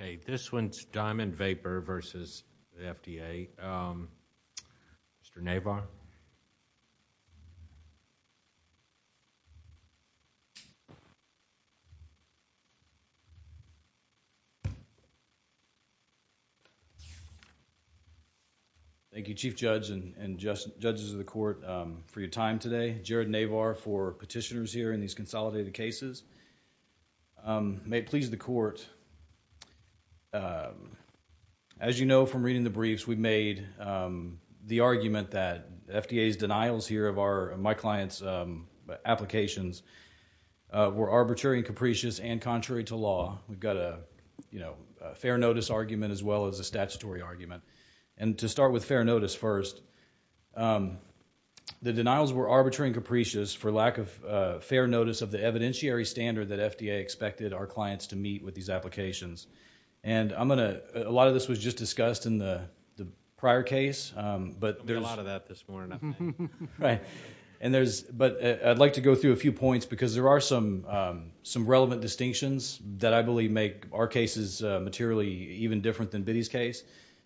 Okay, this one's Diamond Vapor versus the FDA. Mr. Navar. Thank you, Chief Judge and judges of the court for your time today. Jared Navar for petitioners here in these consolidated cases. May it please the court, as you know from reading the briefs, we've made the argument that FDA's denials here of my client's applications were arbitrary and capricious and contrary to law. We've got a, you know, fair notice argument as well as a statutory argument. And to start with fair notice first, the denials were arbitrary and capricious for lack of fair notice of the evidentiary standard that FDA expected our clients to meet with these applications. And I'm going to, a lot of this was just discussed in the prior case, but there's... There'll be a lot of that this morning, I think. Right. But I'd like to go through a few points because there are some relevant distinctions that I believe make our cases materially even different than Biddy's case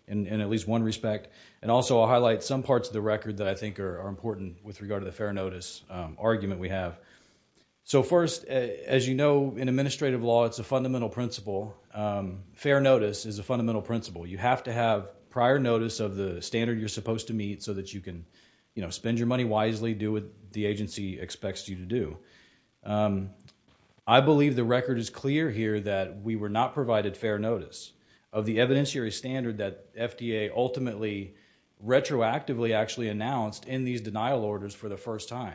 in at least one respect. And also, I'll highlight some parts of the record that I think are important with regard to the fair notice argument we have. So first, as you know, in administrative law, it's a fundamental principle. Fair notice is a fundamental principle. You have to have prior notice of the standard you're supposed to meet so that you can, you know, spend your money wisely, do what the agency expects you to do. I believe the record is clear here that we were not provided fair notice of the evidentiary standard that FDA ultimately retroactively actually announced in these denial orders for the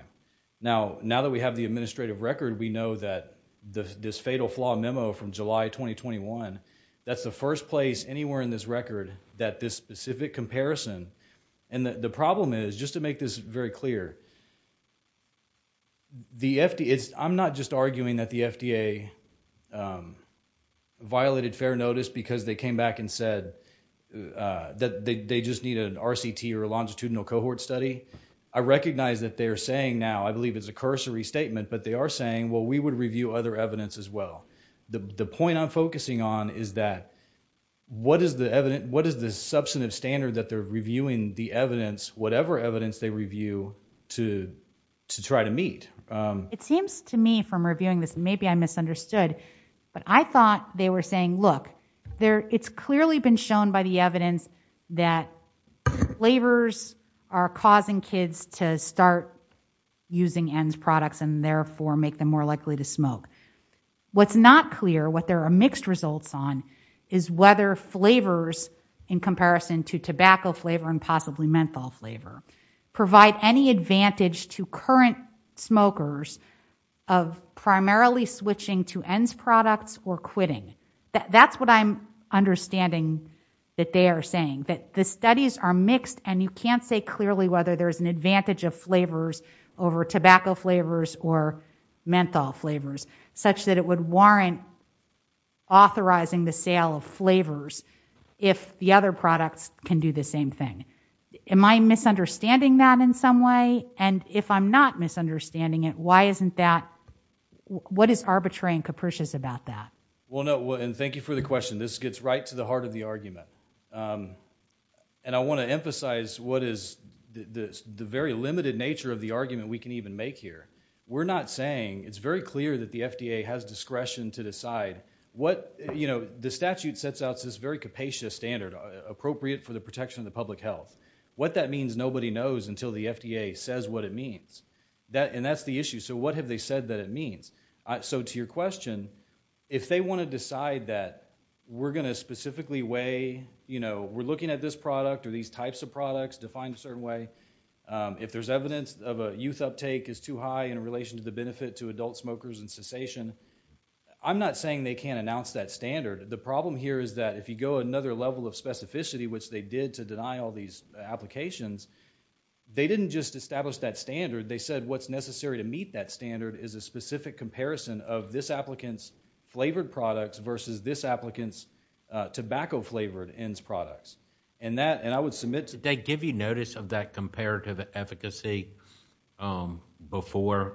Now that we have the administrative record, we know that this fatal flaw memo from July 2021, that's the first place anywhere in this record that this specific comparison... And the problem is, just to make this very clear, the FDA... I'm not just arguing that the FDA violated fair notice because they came back and said that they just need an RCT or a longitudinal cohort study. I recognize that they're saying now, I believe it's a cursory statement, but they are saying, well, we would review other evidence as well. The point I'm focusing on is that, what is the substantive standard that they're reviewing the evidence, whatever evidence they review, to try to meet? It seems to me from reviewing this, maybe I misunderstood, but I thought they were saying, look, it's clearly been shown by the evidence that flavors are causing kids to start using ENDS products and therefore make them more likely to smoke. What's not clear, what there are mixed results on, is whether flavors, in comparison to tobacco flavor and possibly menthol flavor, provide any advantage to current smokers of primarily switching to ENDS products or quitting. That's what I'm understanding that they are saying, that the studies are mixed and you can't say clearly whether there's an advantage of flavors over tobacco flavors or menthol flavors, such that it would warrant authorizing the sale of flavors if the other products can do the same thing. Am I misunderstanding that in some way? And if I'm not misunderstanding it, why isn't that, what is arbitrary and capricious about that? Well, no, and thank you for the question. This gets right to the heart of the question. I want to emphasize what is the very limited nature of the argument we can even make here. We're not saying, it's very clear that the FDA has discretion to decide what, you know, the statute sets out this very capacious standard appropriate for the protection of the public health. What that means, nobody knows until the FDA says what it means. And that's the issue. So what have they said that it means? So to your question, if they want to decide that we're going to specifically weigh, you know, we're looking at this product or these types of products defined a certain way, if there's evidence of a youth uptake is too high in relation to the benefit to adult smokers and cessation, I'm not saying they can't announce that standard. The problem here is that if you go another level of specificity, which they did to deny all these applications, they didn't just establish that standard. They said what's necessary to meet that standard is a specific comparison of this applicant's flavored products versus this applicant's tobacco flavored ends products. And that, I would submit to that. Did they give you notice of that comparative efficacy, um, before?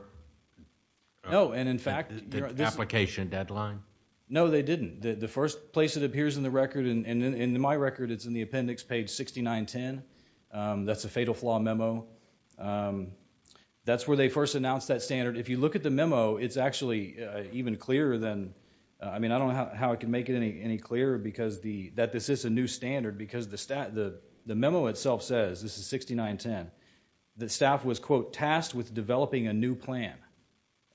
No, and in fact... The application deadline? No, they didn't. The first place it appears in the record, and in my record it's in the appendix page 6910. That's a fatal flaw memo. That's where they first announced that standard. If you look at the memo, it's actually even clearer than, I mean, I don't know how it can make it any any clearer because the, that this is a new standard because the stat, the the memo itself says, this is 6910, the staff was quote tasked with developing a new plan.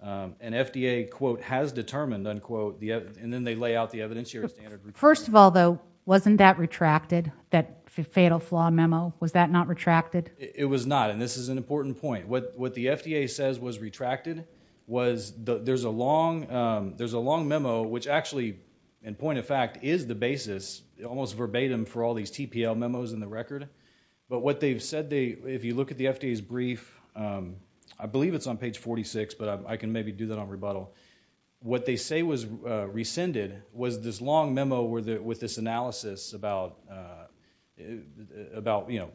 An FDA quote has determined unquote the evidence, and then they lay out the evidence here. First of all though, wasn't that retracted, that fatal flaw memo? Was that not retracted? It was not, and this is an important point. What what the FDA says was retracted was the, there's a long, there's a long memo which actually in point of fact is the basis, almost verbatim for all these TPL memos in the record, but what they've said they, if you look at the FDA's brief, I believe it's on page 46, but I can maybe do that on rebuttal. What they say was rescinded was this long memo where the, with this analysis about, about, you know,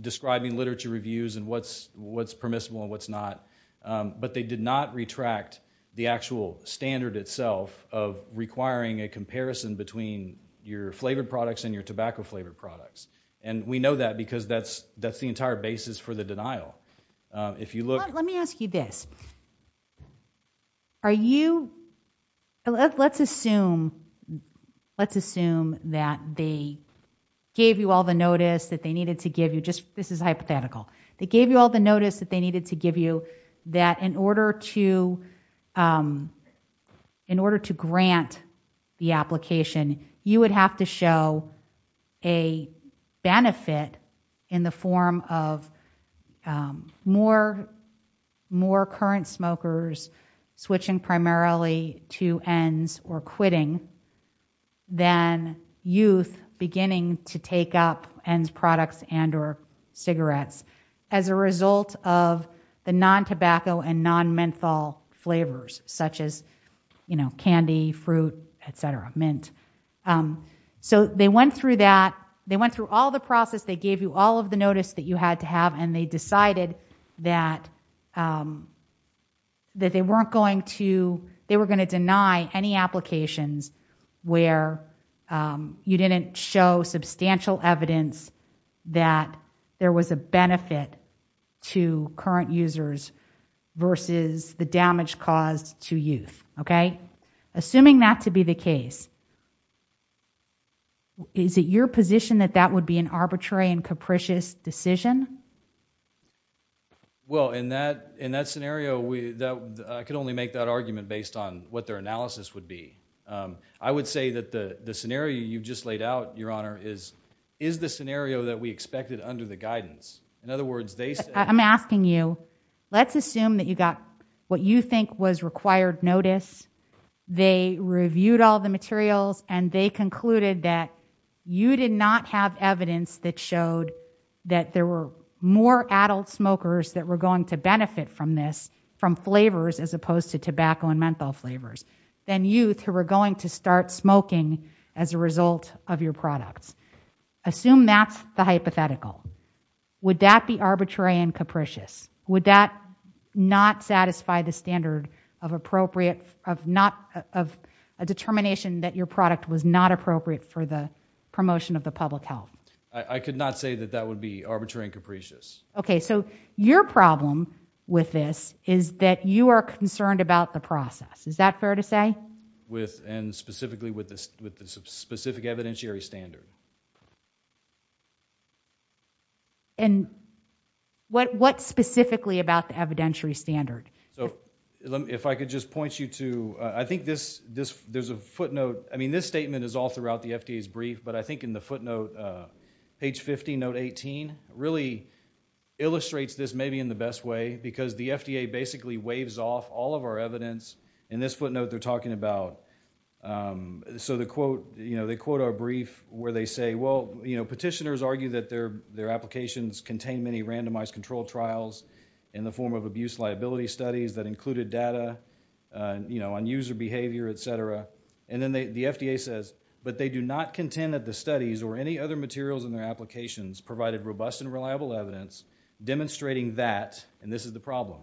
describing literature reviews and what's, what's permissible and what's not, but they did not retract the actual standard itself of requiring a comparison between your flavored products and your tobacco flavored products, and we know that because that's, that's the entire basis for the denial. If you look, let me ask you this, are you, let's assume, let's assume that they gave you all the notice that they needed to give you, just this is hypothetical, they gave you all the notice, but in order to, in order to grant the application, you would have to show a benefit in the form of more, more current smokers switching primarily to ENDS or quitting than youth beginning to take up ENDS products and or cigarettes as a result of the non-tobacco and non-menthol flavors such as, you know, candy, fruit, etc., mint. So they went through that, they went through all the process, they gave you all of the notice that you had to have, and they decided that, that they weren't going to, they were going to deny any applications where you didn't show substantial evidence that there was a benefit to current users versus the damage caused to youth, okay? Assuming that to be the case, is it your position that that would be an arbitrary and capricious decision? Well, in that, in that scenario, we, that, I could only make that argument based on what their analysis would be. I would say that the scenario you've just laid out, Your Honor, is, is the scenario that we expected under the guidance. In other words, they said... I'm asking you, let's assume that you got what you think was required notice, they reviewed all the materials, and they concluded that you did not have evidence that showed that there were more adult smokers that were going to benefit from this, from flavors as opposed to tobacco and menthol flavors, than youth who were going to start smoking as a result of your products. Assume that's the hypothetical. Would that be arbitrary and capricious? Would that not satisfy the standard of appropriate, of not, of a determination that your product was not appropriate for the promotion of the public health? I could not say that that would be arbitrary and capricious. Okay, so your problem with this is that you are concerned about the process. Is that fair to say? With, and specifically with this, with the specific evidentiary standard. And what, what specifically about the evidentiary standard? So, if I could just point you to, I think this, this, there's a footnote, I mean, this statement is all throughout the FDA's brief, but I think in the footnote, page 50, note 18, really illustrates this maybe in the best way because the FDA basically waves off all of our evidence. In this footnote, they're talking about, so the quote, you know, they quote our brief where they say, well, you know, petitioners argue that their, their applications contain many randomized controlled trials in the form of abuse liability studies that included data, you know, on user behavior, etc. And then they, the FDA says, but they do not contend that the studies or any other materials in their applications provided robust and reliable evidence demonstrating that, and this is the problem,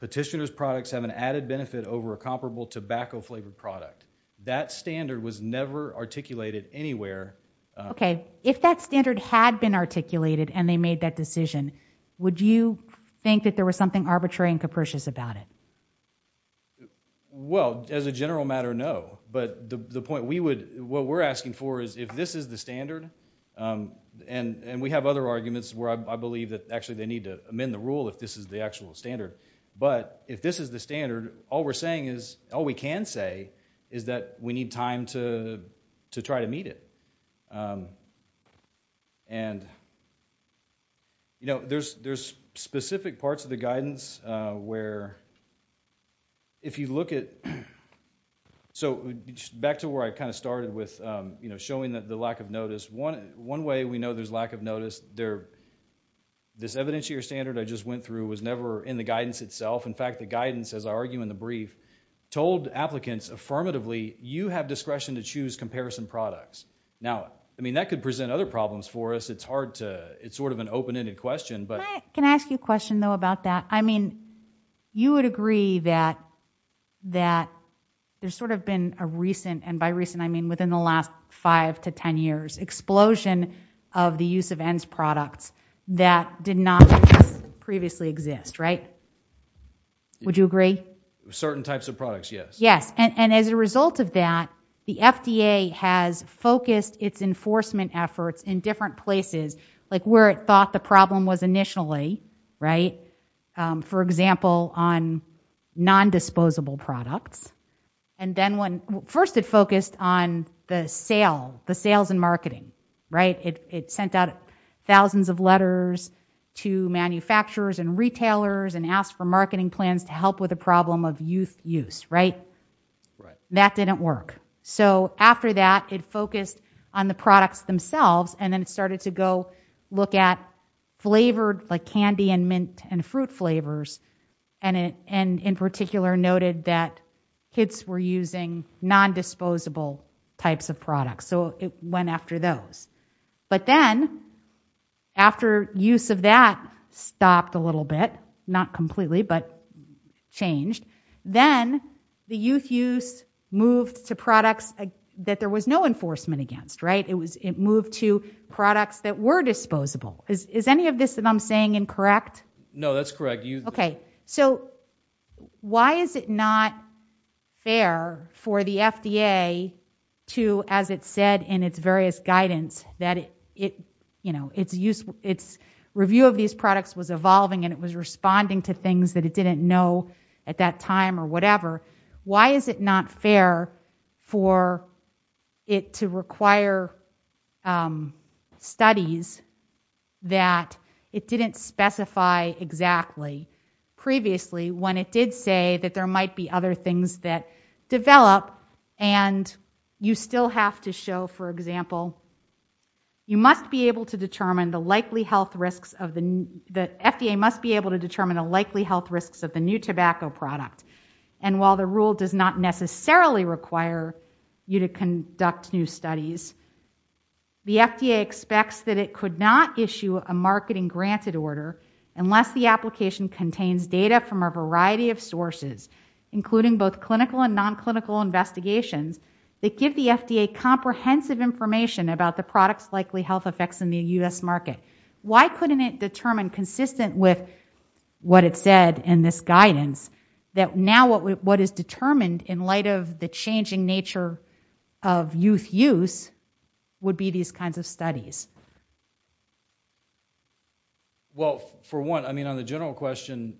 petitioner's products have an added benefit over a comparable tobacco flavored product. That standard was never articulated anywhere. Okay, if that standard had been articulated and they made that decision, would you think that there was something arbitrary and capricious about it? Well, as a general matter, no. But the point we would, what we're asking for is if this is the standard, and, and we have other arguments where I believe that actually they need to amend the rule if this is the actual standard, but if this is the standard, all we're saying is, all we can say is that we need time to, to try to meet it. And, you know, there's, there's specific parts of the guidance where if you look at, so back to where I kind of started with, you know, showing that the lack of notice, one, one way we know there's lack of notice, there, this evidentiary standard I just went through was never in the guidance itself. In fact, the guidance, as I argue in the brief, told applicants affirmatively, you have discretion to choose comparison products. Now, I mean, that could present other problems for us. It's hard to, it's sort of an open-ended question, but. Can I ask you a question, though, about that? I mean, you would agree that, that there's sort of been a recent, and by recent I mean within the last five to ten years, explosion of the use of ENDS products that did not previously exist, right? Would you agree? Certain types of products, yes. Yes, and, and as a result of that, the FDA has focused its enforcement efforts in different places, like where it thought the problem was initially, right? For example, on non-disposable products, and then when, first it focused on the sale, the sales and marketing, right? It sent out thousands of letters to manufacturers and retailers and asked for marketing plans to help with a problem of youth use, right? That didn't work. So after that, it focused on the candy and mint and fruit flavors, and it, and in particular noted that kids were using non-disposable types of products. So it went after those. But then, after use of that stopped a little bit, not completely, but changed, then the youth use moved to products that there was no enforcement against, right? It was, it I'm saying incorrect? No, that's correct. Okay, so why is it not fair for the FDA to, as it said in its various guidance, that it, you know, it's useful, its review of these products was evolving and it was responding to things that it didn't know at that time or whatever. Why is it not fair for it to require studies that it didn't specify exactly previously when it did say that there might be other things that develop and you still have to show, for example, you must be able to determine the likely health risks of the, the FDA must be able to determine the likely health risks of the new tobacco product. And while the rule does not necessarily require you to conduct new studies, the FDA expects that it could not issue a marketing granted order unless the application contains data from a variety of sources, including both clinical and non-clinical investigations, that give the FDA comprehensive information about the products likely health effects in the U.S. market. Why couldn't it determine, consistent with what it said in this guidance, that now what is determined in light of the changing nature of youth use would be these kinds of studies? Well, for one, I mean on the general question,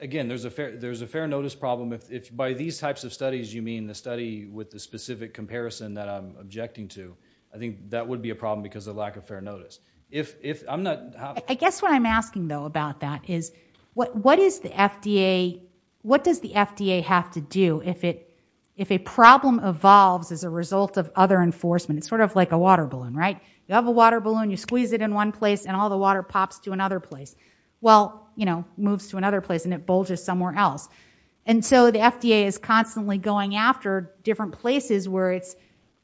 again, there's a fair, there's a fair notice problem. If by these types of studies you mean the study with the specific comparison that I'm objecting to, I think that would be a problem because of lack of fair notice. If, if I'm not... I guess what I'm asking though about that is what, what is the FDA, what does the FDA have to do if it, if a problem evolves as a result of other enforcement? It's sort of like a water balloon, right? You have a water balloon, you squeeze it in one place and all the water pops to another place. Well, you know, moves to another place and it bulges somewhere else. And so the FDA is constantly going after different places where it's,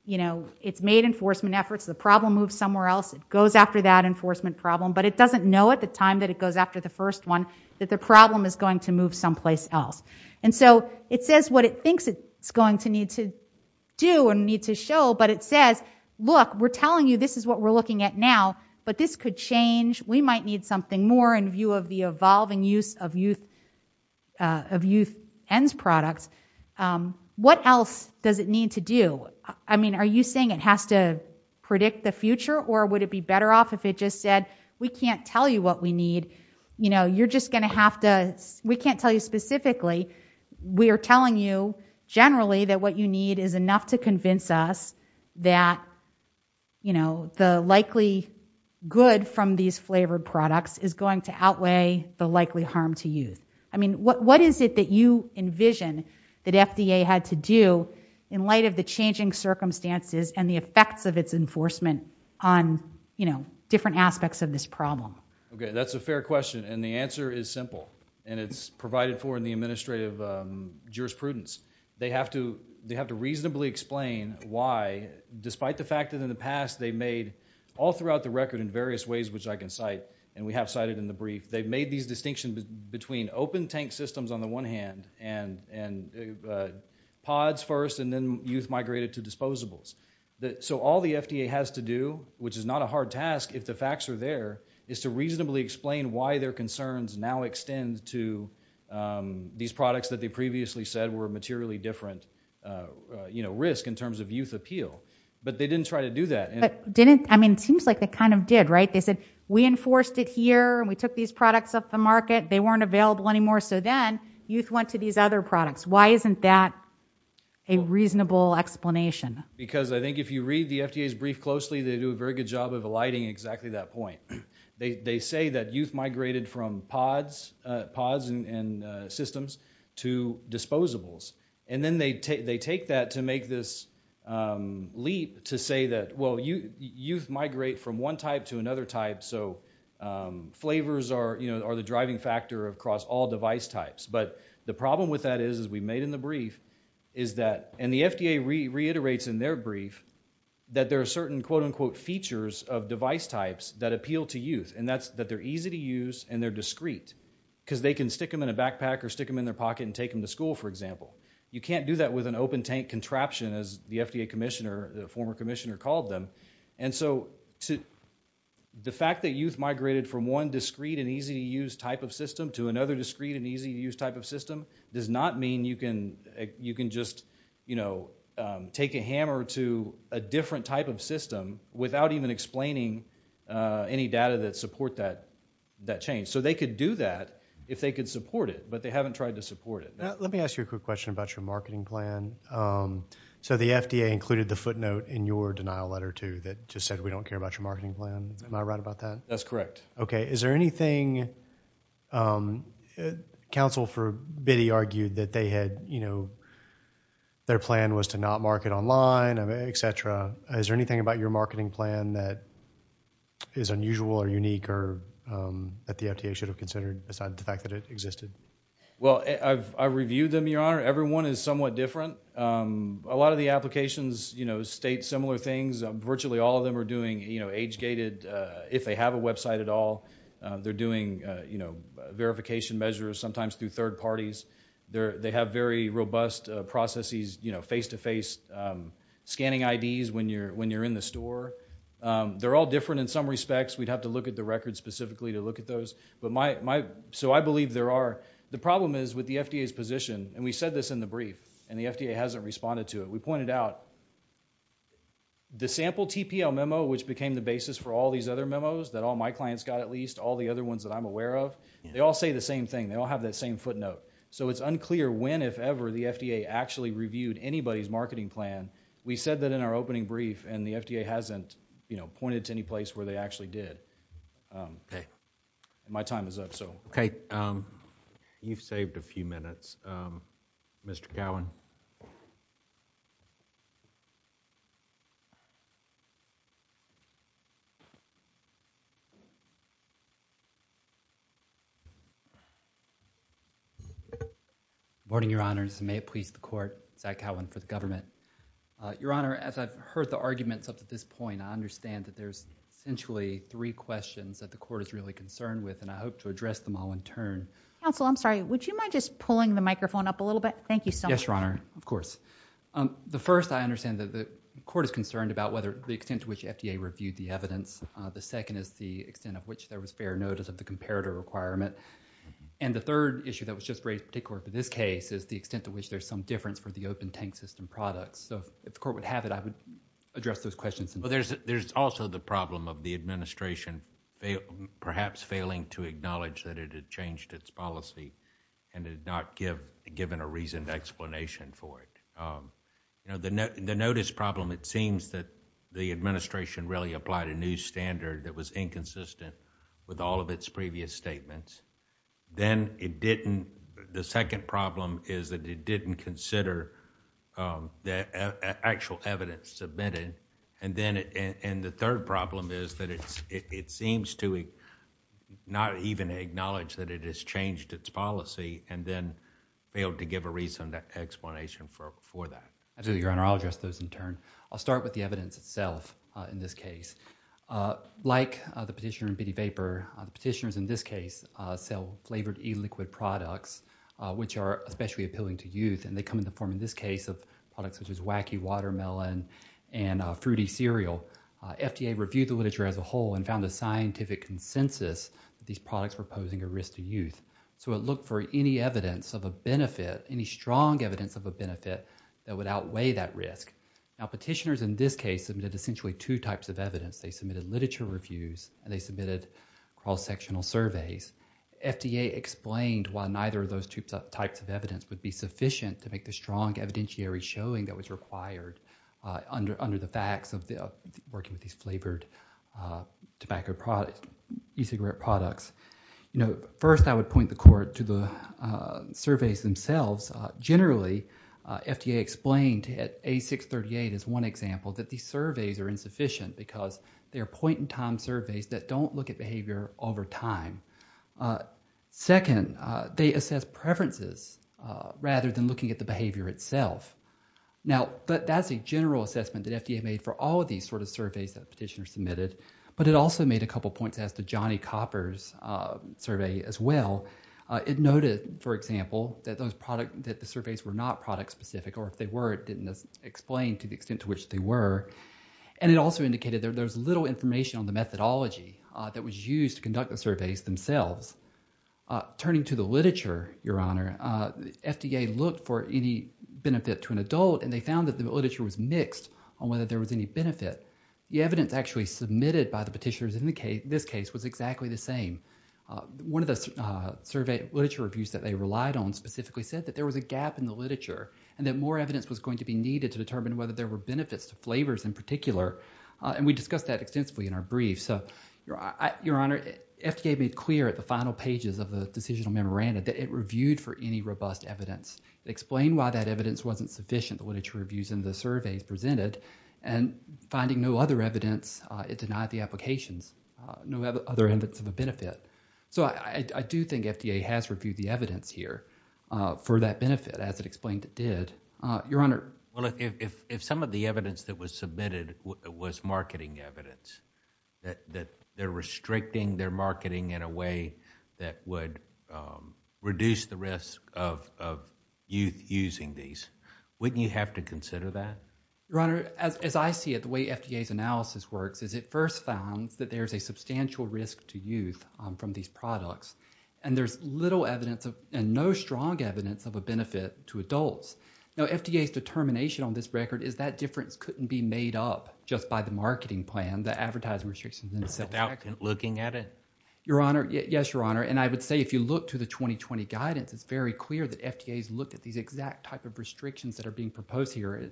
you know, it's made enforcement efforts, the problem moves somewhere else, it goes after that enforcement problem, but it doesn't know at the time that it goes after the first one that the problem is going to move someplace else. And so it says what it thinks it's going to need to do and need to show, but it says, look, we're telling you this is what we're looking at now, but this could change, we might need something more in view of the evolving use of youth, of youth ENDS products. What else does it need to do? I mean, are you saying it has to predict the future or would it be better off if it just said, we can't tell you what we need, you know, you're just going to have to, we can't tell you specifically, we are telling you generally that what you need is enough to convince us that, you know, the likely good from these flavored products is going to outweigh the likely harm to youth. I mean, what is it that you envision that FDA had to do in light of the changing circumstances and the effects of its enforcement on, you know, different aspects of this problem? Okay, that's a fair question, and the answer is simple, and it's provided for in the brief. It's to reasonably explain why, despite the fact that in the past they made, all throughout the record in various ways which I can cite, and we have cited in the brief, they've made these distinction between open tank systems on the one hand, and pods first, and then youth migrated to disposables. So all the FDA has to do, which is not a hard task if the facts are there, is to reasonably explain why their concerns now extend to these risks in terms of youth appeal, but they didn't try to do that. But didn't, I mean, it seems like they kind of did, right? They said, we enforced it here, and we took these products off the market, they weren't available anymore, so then youth went to these other products. Why isn't that a reasonable explanation? Because I think if you read the FDA's brief closely, they do a very good job of alighting exactly that point. They say that youth migrated from pods and systems to disposables, and then they take that to make this leap to say that, well, youth migrate from one type to another type, so flavors are, you know, are the driving factor across all device types. But the problem with that is, as we made in the brief, is that, and the FDA reiterates in their brief, that there are certain quote-unquote features of device types that appeal to youth, and that's that they're easy to use, and they're discrete, because they can stick them in their backpack or stick them in their pocket and take them to school, for example. You can't do that with an open-tank contraption, as the FDA commissioner, the former commissioner, called them, and so the fact that youth migrated from one discrete and easy-to-use type of system to another discrete and easy-to-use type of system does not mean you can just, you know, take a hammer to a different type of system without even explaining any data that supports that change. So they could do that if they could support it, but they haven't tried to support it. Let me ask you a quick question about your marketing plan. So the FDA included the footnote in your denial letter, too, that just said we don't care about your marketing plan. Am I right about that? That's correct. Okay, is there anything, counsel for Biddy argued that they had, you know, their plan was to not market online, etc. Is there anything about your marketing plan that is unusual or unique or that the FDA should have considered besides the fact that it existed? Well, I've reviewed them, your honor. Every one is somewhat different. A lot of the applications, you know, state similar things. Virtually all of them are doing, you know, age-gated, if they have a website at all, they're doing, you know, verification measures sometimes through third parties. They have very robust processes, you know, face-to-face scanning IDs when you're in the store. They're all different in some respects. We'd have to look at the records specifically to look at those, but my, so I believe there are. The problem is with the FDA's position, and we said this in the brief, and the FDA hasn't responded to it, we pointed out the sample TPL memo, which became the basis for all these other memos that all my clients got at least, all the other ones that I'm aware of, they all say the same thing. They all have that same footnote. So it's unclear when, if ever, the FDA actually reviewed anybody's marketing plan. We said that in our opening brief, and the FDA hasn't, you know, pointed to any place where they actually did. Okay, my time is up, so. Okay, you've saved a few minutes. Mr. Cowan. Good morning, Your Honors. May it please the Court, Zach Cowan for the government. Your Honor, as I've heard the arguments up to this point, I understand that there's essentially three questions that the Court is really concerned with, and I hope to address them all in turn. Counsel, I'm sorry. Would you mind just pulling the microphone up a little bit? Thank you so much. Yes, Your Honor. Of course. The first, I understand that the Court is concerned about whether, the extent to which FDA reviewed the evidence. The second is the extent of which there was fair notice of the comparator requirement. And the third issue that was just raised in particular for this case is the extent to which there's some difference for the open tank system products. So if the Court would have it, I would address those questions. There's also the problem of the administration perhaps failing to acknowledge that it had changed its policy and had not given a reasoned explanation for it. The notice problem, it seems that the administration really applied a new standard that was inconsistent with all of its previous statements. Then it didn't, the second problem is that it didn't consider the actual evidence submitted. And then, and the third problem is that it seems to not even acknowledge that it has changed its policy and then failed to give a reasoned explanation for that. Absolutely, Your Honor. I'll address those in turn. I'll start with the evidence itself in this case. Like the petitioner in Bitty Vapor, petitioners in this case sell flavored e-liquid products which are especially appealing to youth and they come in the form in this case of products such as Wacky Watermelon and Fruity Cereal. FDA reviewed the literature as a whole and found a scientific consensus that these products were posing a risk to youth. So it looked for any evidence of a benefit, any strong evidence of a benefit that would outweigh that risk. Now petitioners in this case submitted essentially two types of evidence. They submitted literature reviews and they submitted cross-sectional surveys. FDA explained why neither of those types of evidence would be sufficient to make the strong evidentiary showing that was required under the facts of working with these flavored e-cigarette products. First, I would point the Court to the surveys themselves. Generally, FDA explained at A638 as one example that these surveys are insufficient because they are point-in-time surveys that don't look at behavior over time. Second, they assess preferences rather than looking at the behavior itself. Now, that's a general assessment that FDA made for all of these sort of surveys that petitioners submitted, but it also made a couple points as to Johnny Copper's survey as well. It noted, for example, that the surveys were not product-specific or if they were, it didn't explain to the extent to which they were. And it also indicated there was little information on the methodology that was used to conduct the surveys themselves. Turning to the literature, Your Honor, FDA looked for any benefit to an adult and they found that the literature was mixed on whether there was any benefit. The evidence actually submitted by the petitioners in this case was exactly the same. One of the literature reviews that they relied on specifically said that there was a gap in the literature and that more evidence was going to be needed to determine whether there were any benefits. We discussed that extensively in our brief. Your Honor, FDA made clear at the final pages of the decisional memorandum that it reviewed for any robust evidence. It explained why that evidence wasn't sufficient, the literature reviews and the surveys presented, and finding no other evidence, it denied the applications, no other evidence of a benefit. I do think FDA has reviewed the evidence here for that benefit as it explained it did. Your Honor. Well, if some of the evidence that was submitted was marketing evidence, that they're restricting their marketing in a way that would reduce the risk of youth using these, wouldn't you have to consider that? Your Honor, as I see it, the way FDA's analysis works is it first found that there's a substantial risk to youth from these products and there's little evidence and no strong evidence of a benefit to adults. Now, FDA's determination on this record is that difference couldn't be made up just by the marketing plan, the advertising restrictions in itself. Without looking at it? Yes, Your Honor, and I would say if you look to the 2020 guidance, it's very clear that FDA's looked at these exact type of restrictions that are being proposed here.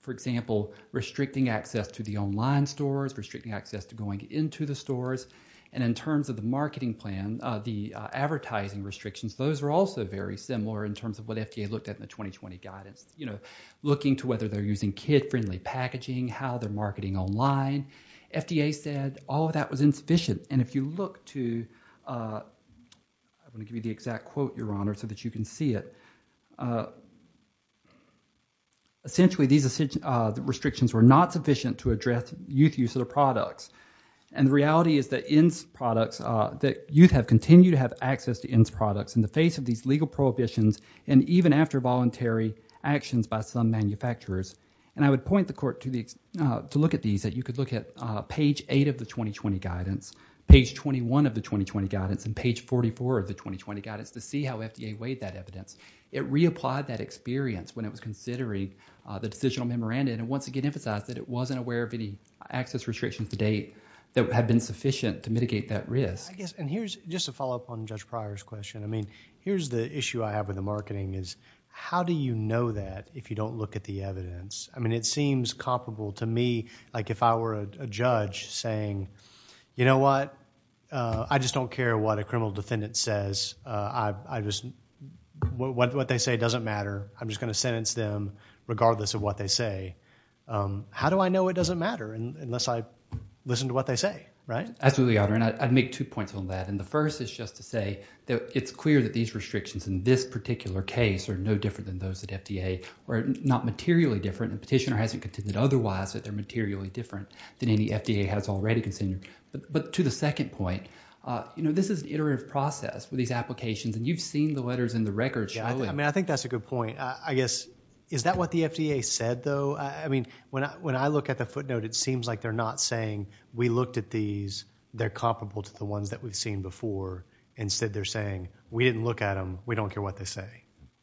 For example, restricting access to the online stores, restricting access to going into the stores, and in terms of the marketing plan, the advertising restrictions, those are also very similar in terms of what FDA looked at in the 2020 guidance, you know, looking to whether they're using kid-friendly packaging, how they're marketing online. FDA said all of that was insufficient, and if you look to, I'm going to give you the exact quote, Your Honor, so that you can see it. Essentially, these restrictions were not sufficient to address youth use of the products, and the reality is that youth have continued to have access to INS products in the face of these legal prohibitions, and even after voluntary actions by some manufacturers, and I would point the court to look at these, that you could look at page 8 of the 2020 guidance, page 21 of the 2020 guidance, and page 44 of the 2020 guidance to see how FDA weighed that evidence. It reapplied that experience when it was considering the decisional memorandum, and once again emphasized that it wasn't aware of any access restrictions to date that had been sufficient to mitigate that risk. And here's just a follow-up on Judge Pryor's question. I mean, here's the issue I have with the marketing is, how do you know that if you don't look at the evidence? I mean, it seems comparable to me like if I were a judge saying, you know what, I just don't care what a criminal defendant says. What they say doesn't matter. I'm just going to sentence them regardless of what they say. How do I know it doesn't matter unless I listen to what they say, right? Absolutely, Your Honor, and I'd make two points on that. And the first is just to say that it's clear that these restrictions in this particular case are no different than those at FDA, or not materially different, and the petitioner hasn't contended otherwise that they're materially different than any FDA has already considered. But to the second point, you know, this is an iterative process with these applications, and you've seen the letters in the records show it. I mean, I think that's a good point. I guess, is that what the FDA said, though? I mean, when I look at the footnote, it seems like they're not saying, we looked at these, they're comparable to the ones that we've seen before. Instead, they're saying, we didn't look at them, we don't care what they say.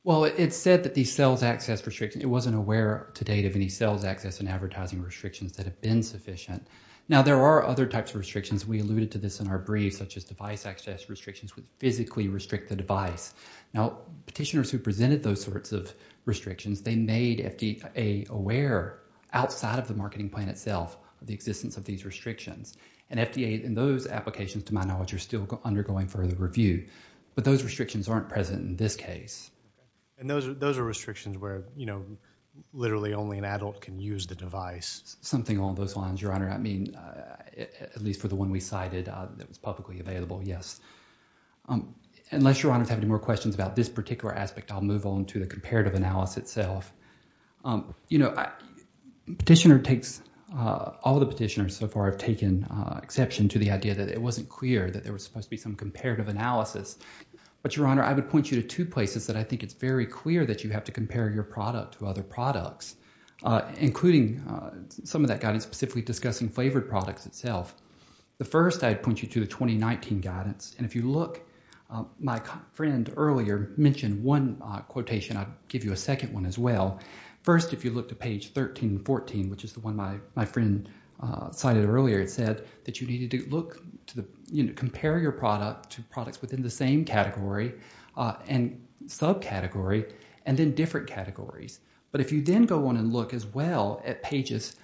Well, it said that these sales access restrictions, it wasn't aware to date of any sales access and advertising restrictions that have been sufficient. Now, there are other types of restrictions. We alluded to this in our brief, such as device access restrictions would physically restrict the device. Now, petitioners who presented those sorts of restrictions, they made the FDA aware, outside of the marketing plan itself, of the existence of these restrictions. And FDA, in those applications, to my knowledge, are still undergoing further review. But those restrictions aren't present in this case. And those are restrictions where, you know, literally only an adult can use the device. Something along those lines, Your Honor. I mean, at least for the one we cited that was publicly available, yes. Unless Your Honor has any more questions about this particular aspect, I'll move on to the comparative analysis itself. You know, petitioner takes, all the petitioners so far have taken exception to the idea that it wasn't clear that there was supposed to be some comparative analysis. But Your Honor, I would point you to two places that I think it's very clear that you have to compare your product to other products, including some of that guidance specifically discussing flavored products itself. The first, I'd point you to the 2019 guidance. And if you look, my friend earlier mentioned one quotation, I'd give you a second one as well. First, if you look to page 13 and 14, which is the one my friend cited earlier, it said that you needed to look to the, you know, compare your product to products within the same category and subcategory and then different categories. But if you then go on and look as well at pages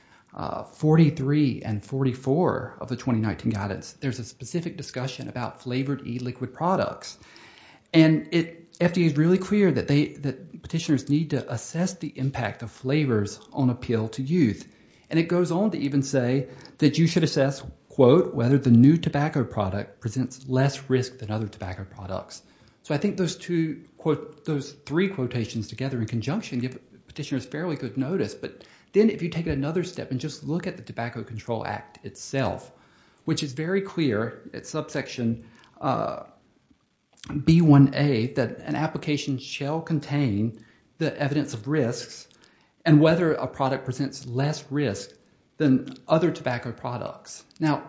43 and 44 of the 2019 guidance, there's a specific discussion about flavored e-liquid products. And FDA is really clear that they, that petitioners need to assess the impact of flavors on appeal to youth. And it goes on to even say that you should assess, quote, whether the new tobacco product presents less risk than other tobacco products. So I think those two, those three quotations together in conjunction give petitioners fairly good notice. But then if you take another step and just look at the Tobacco Control Act itself, which is very clear, it's subsection B1A, that an application shall contain the evidence of risks and whether a product presents less risk than other tobacco products. Now,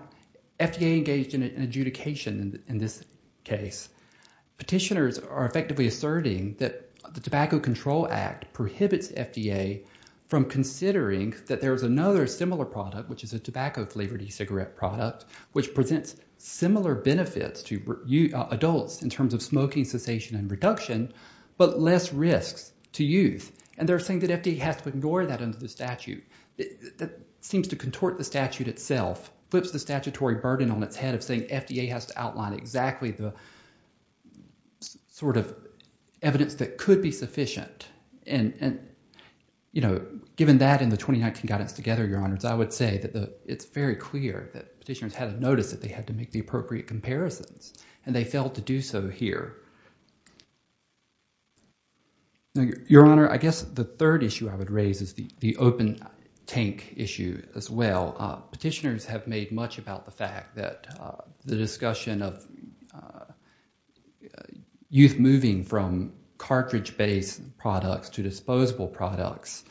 FDA engaged in adjudication in this case. Petitioners are effectively asserting that the Tobacco Control Act prohibits FDA from considering that there is another similar product, which is a tobacco flavored e-cigarette product, which presents similar benefits to adults in terms of smoking cessation and reduction, but less risks to youth. And they're saying that FDA has to ignore that under the statute. That seems to contort the statute itself, flips the statutory burden on its head of saying FDA has to outline exactly the sort of evidence that could be sufficient. And, you know, given that and the 2019 guidance together, Your Honors, I would say that it's very clear that petitioners had to notice that they had to make the appropriate comparisons, and they failed to do so here. Now, Your Honor, I guess the third issue I would raise is the open tank issue as well. Petitioners have made much about the fact that the discussion of youth moving from cartridge-based products to disposable products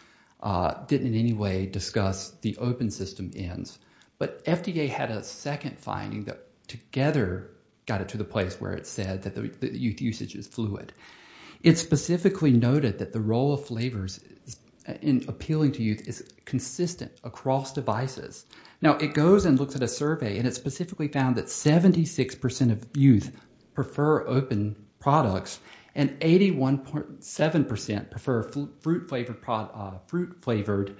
didn't in any way discuss the open system ends. But FDA had a second finding that together got it to the place where it said that youth usage is fluid. It specifically noted that the role of flavors in appealing to youth is consistent across devices. Now, it goes and looks at a survey, and it specifically found that 76% of youth prefer open products, and 81.7% prefer fruit-flavored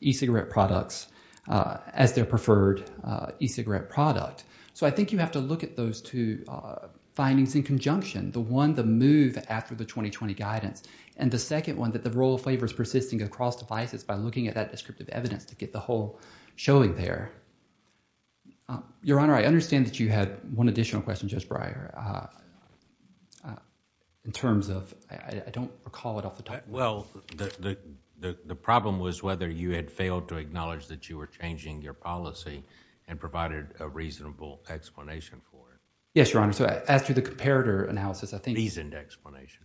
e-cigarette products as their preferred e-cigarette product. So I think you have to look at those two findings in conjunction, the one, the move after the 2020 guidance, and the second one, that the role of flavors persisting across devices by looking at that descriptive evidence to get the whole showing there. Your Honor, I understand that you had one question. I don't recall it off the top of my head. The problem was whether you had failed to acknowledge that you were changing your policy and provided a reasonable explanation for it. Yes, Your Honor. As to the comparator analysis... A reasoned explanation.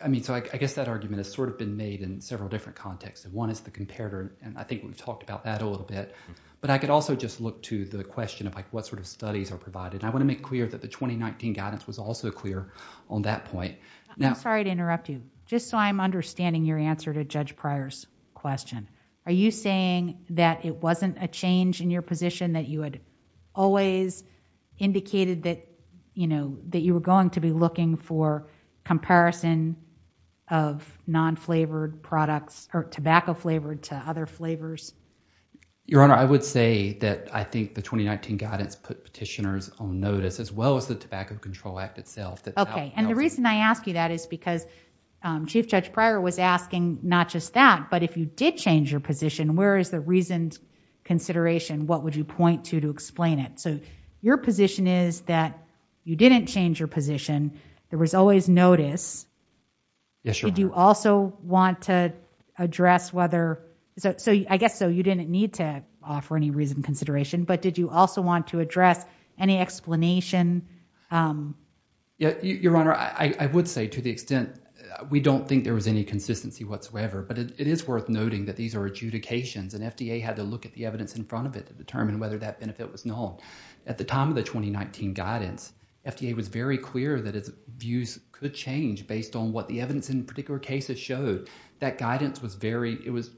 I guess that argument has been made in several different contexts. One is the comparator, and I think we've talked about that a little bit. But I could also just look to the question of what sort of studies are provided. I want to make clear that the 2019 guidance was also clear on that point. I'm sorry to interrupt you. Just so I'm understanding your answer to Judge Pryor's question. Are you saying that it wasn't a change in your position that you had always indicated that you were going to be looking for comparison of non-flavored products or tobacco flavored to other flavors? Your Honor, I would say that I think the 2019 guidance put petitioners on notice as well as the Tobacco Control Act itself. Okay. And the reason I ask you that is because Chief Judge Pryor was asking not just that, but if you did change your position, where is the reasoned consideration? What would you point to to explain it? So your position is that you didn't change your position. There was always notice. Yes, Your Honor. Did you also want to address whether... I guess so. You didn't need to offer any reasoned consideration, but did you also want to address any explanation? Yeah. Your Honor, I would say to the extent we don't think there was any consistency whatsoever, but it is worth noting that these are adjudications and FDA had to look at the evidence in front of it to determine whether that benefit was known. At the time of the 2019 guidance, FDA was very clear that its views could change based on what the evidence in particular cases showed. That guidance was very... it was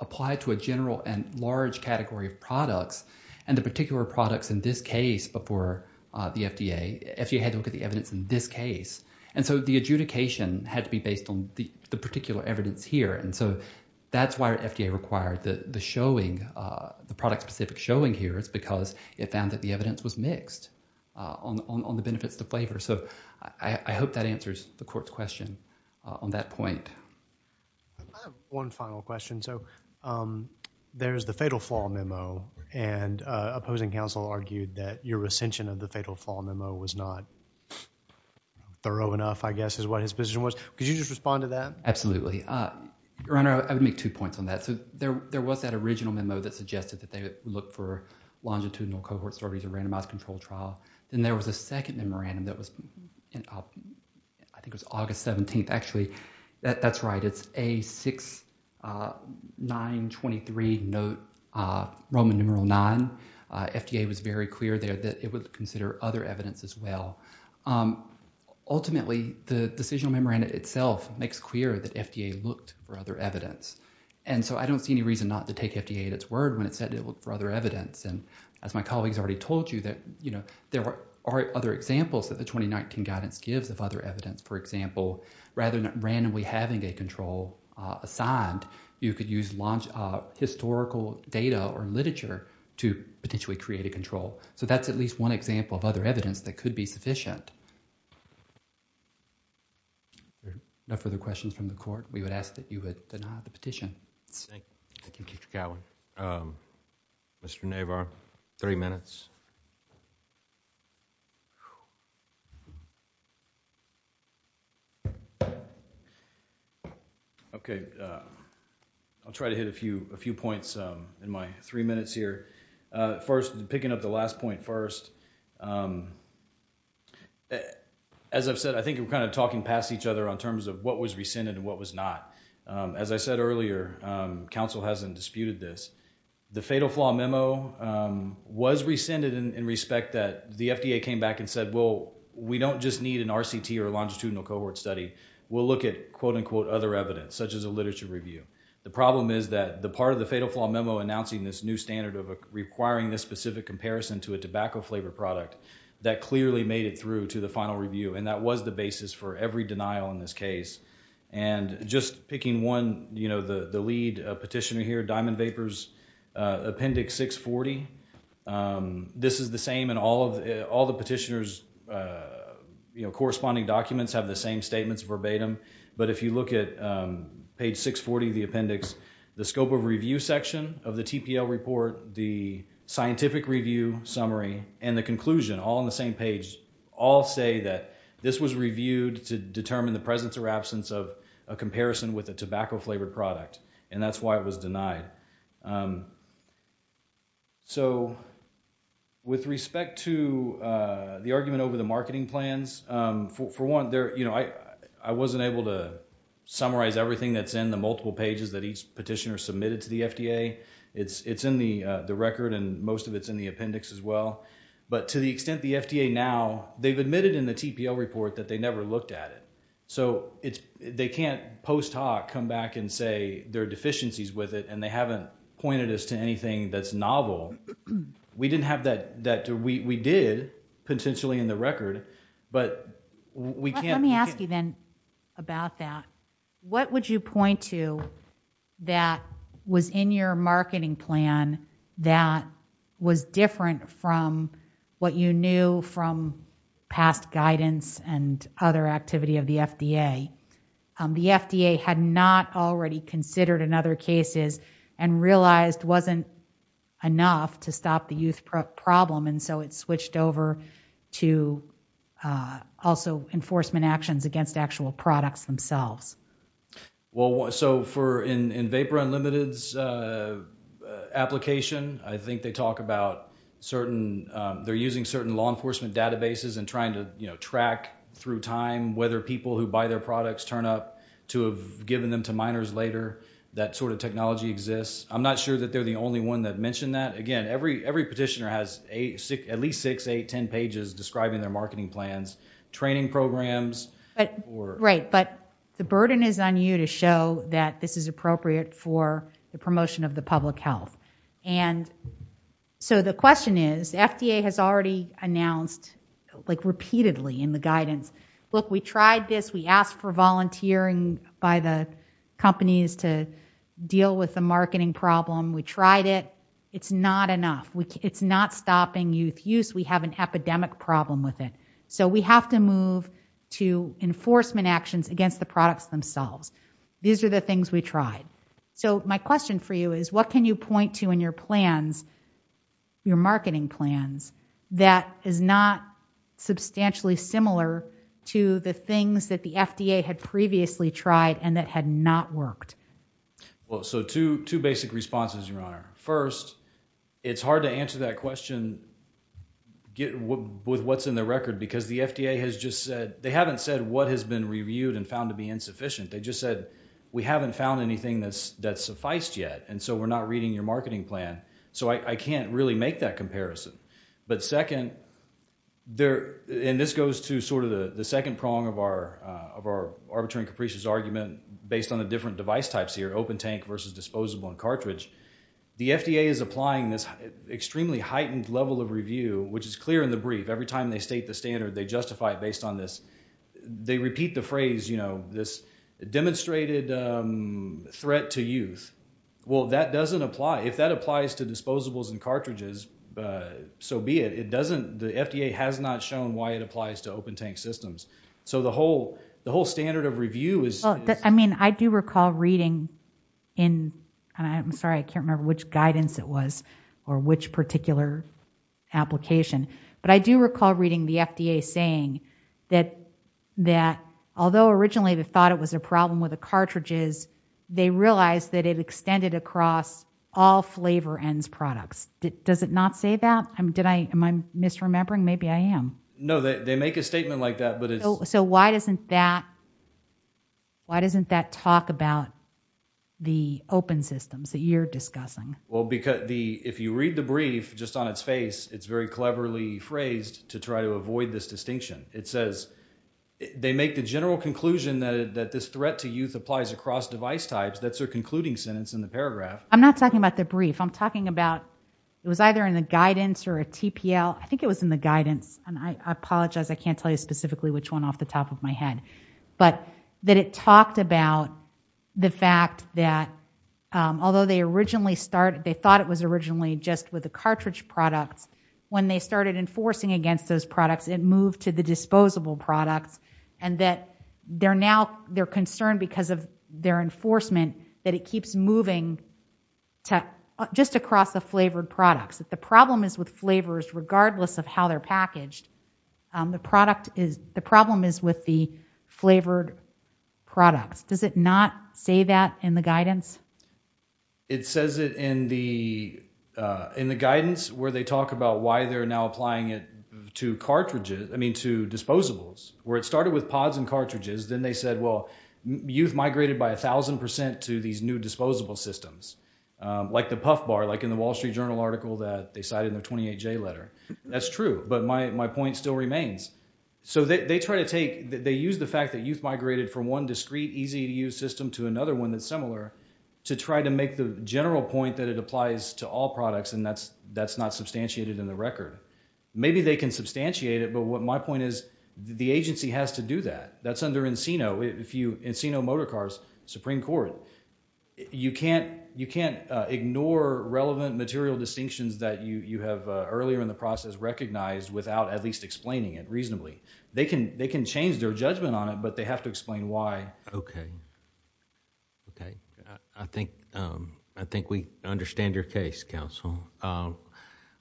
applied to a general and large category of products, and the particular products in this case before the FDA, FDA had to look at the evidence in this case. So the adjudication had to be based on the particular evidence here. So that's why FDA required the showing, the product-specific showing here. It's because it found that the evidence was mixed on the benefits to flavor. So I hope that answers the Court's question on that point. I have one final question. So there's the fatal flaw memo, and opposing counsel argued that your recension of the fatal flaw memo was not thorough enough, I guess, is what his position was. Could you just respond to that? Absolutely. Your Honor, I would make two points on that. So there was that original memo that suggested that they would look for longitudinal cohort surveys or randomized controlled trial. Then there was a second memorandum that was, I think it was August 17th. Actually, that's right. It's A6923 note, Roman numeral 9. FDA was very clear there that it would consider other evidence as well. Ultimately, the decisional memorandum itself makes clear that FDA looked for other evidence. And so I don't see any reason not to take FDA at its word when it said it looked for other evidence. And as my colleagues already told you, there are other examples that the 2019 guidance gives of other evidence. For example, rather than randomly having a control assigned, you could use historical data or literature to potentially create a control. So that's at least one example of other evidence that could be sufficient. No further questions from the Court? We would ask that you would deny the petition. Thank you, Mr. Cowan. Mr. Navarro, three minutes. Okay. I'll try to hit a few points in my three minutes here. First, picking up the last point first. As I've said, I think we're kind of talking past each other on terms of what was rescinded and what was not. As I said earlier, counsel hasn't disputed this. The fatal flaw memo was rescinded in that the FDA came back and said, well, we don't just need an RCT or longitudinal cohort study. We'll look at, quote, unquote, other evidence, such as a literature review. The problem is that the part of the fatal flaw memo announcing this new standard of requiring this specific comparison to a tobacco flavor product, that clearly made it through to the final review. And that was the basis for every denial in this case. And just picking one, you know, the lead petitioner here, Diamond Vapors Appendix 640. This is the same in all the petitioner's, you know, corresponding documents have the same statements verbatim. But if you look at page 640 of the appendix, the scope of review section of the TPL report, the scientific review summary, and the conclusion, all on the same page, all say that this was reviewed to determine the presence or absence of a comparison with a tobacco flavored product. And that's why it was denied. So, with respect to the argument over the marketing plans, for one, there, you know, I wasn't able to summarize everything that's in the multiple pages that each petitioner submitted to the FDA. It's in the record and most of it's in the appendix as well. But to the extent the FDA now, they've admitted in the TPL report that they never looked at it. So, they can't post hoc come back and say there are deficiencies with it and they haven't pointed us to anything that's novel. We didn't have that, we did potentially in the record, but we can't. Let me ask you then about that. What would you point to that was in your marketing plan that was different from what you knew from past guidance and other activity of the FDA? The FDA had not already considered in other cases and realized wasn't enough to stop the youth problem and so it switched over to also enforcement actions against actual products themselves. Well, so for in Vapor Unlimited's application, I think they talk about certain, they're using certain law enforcement databases and trying to, track through time whether people who buy their products turn up to have given them to minors later, that sort of technology exists. I'm not sure that they're the only one that mentioned that. Again, every petitioner has at least six, eight, ten pages describing their marketing plans, training programs. Right, but the burden is on you to show that this is appropriate for the promotion of the public health. And so the question is, FDA has already announced, like repeatedly in the guidance, look, we tried this. We asked for volunteering by the companies to deal with the marketing problem. We tried it. It's not enough. It's not stopping youth use. We have an epidemic problem with it. So we have to move to enforcement actions against the products themselves. These are the things we tried. So my question for you is, what can you point to in your plans, your marketing plans, that is not substantially similar to the things that the FDA had previously tried and that had not worked? Well, so two, two basic responses, Your Honor. First, it's hard to answer that question with what's in the record because the FDA has just said, they haven't said what has been reviewed and found to be insufficient. They just said, we haven't found anything that's, that's sufficed yet. And so we're not reading your marketing plan. So I can't really make that comparison. But second, there, and this goes to sort of the second prong of our arbitrary and capricious argument based on the different device types here, open tank versus disposable and cartridge. The FDA is applying this extremely heightened level of review, which is clear in the brief. Every time they state the standard, they justify it based on this. They repeat the phrase, you know, this demonstrated threat to youth. Well, that doesn't apply. If that applies to disposables and cartridges, so be it. It doesn't, the FDA has not shown why it applies to open tank systems. So the whole, the whole standard of review is. I mean, I do recall reading in, and I'm sorry, I can't remember which guidance it was or which particular application, but I do recall reading the FDA saying that, that although originally they thought it was a problem with the cartridges, they realized that it extended across all flavor ends products. Does it not say that? Did I, am I misremembering? Maybe I am. No, they make a statement like that, but it's. So why doesn't that, why doesn't that talk about the open systems that you're discussing? Well, because the, if you read the brief just on its face, it's very cleverly phrased to try to avoid this distinction. It says they make the general conclusion that this threat to youth applies across device types. That's their concluding sentence in the paragraph. I'm not talking about the brief. I'm talking about it was either in the guidance or a TPL. I think it was in the guidance. And I apologize, I can't tell you specifically which one off the top of my head, but that it talked about the fact that although they originally started, they thought it was originally just with the cartridge products. When they started enforcing against those products, it moved to the disposable products and that they're now, they're concerned because of their enforcement that it keeps moving to just across the flavored products. The problem is with flavors, regardless of how they're packaged, the product is, the problem is with the flavored products. Does it not say that in the guidance? It says it in the, in the guidance where they talk about why they're now applying it to cartridges, I mean, to disposables, where it started with pods and cartridges. Then they said, well, youth migrated by a thousand percent to these new disposable systems, like the Puff Bar, like in the Wall Street Journal article that they cited in their 28-J letter. That's true, but my point still remains. So they try to take, they use the fact that youth migrated from one to try to make the general point that it applies to all products and that's, that's not substantiated in the record. Maybe they can substantiate it, but what my point is, the agency has to do that. That's under Encino, if you, Encino Motor Cars, Supreme Court. You can't, you can't ignore relevant material distinctions that you, you have earlier in the process recognized without at least explaining it reasonably. They can, they can change their I think, I think we understand your case, counsel.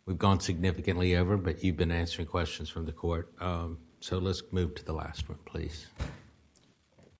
We've gone significantly over, but you've been answering questions from the court. So let's move to the last one, please.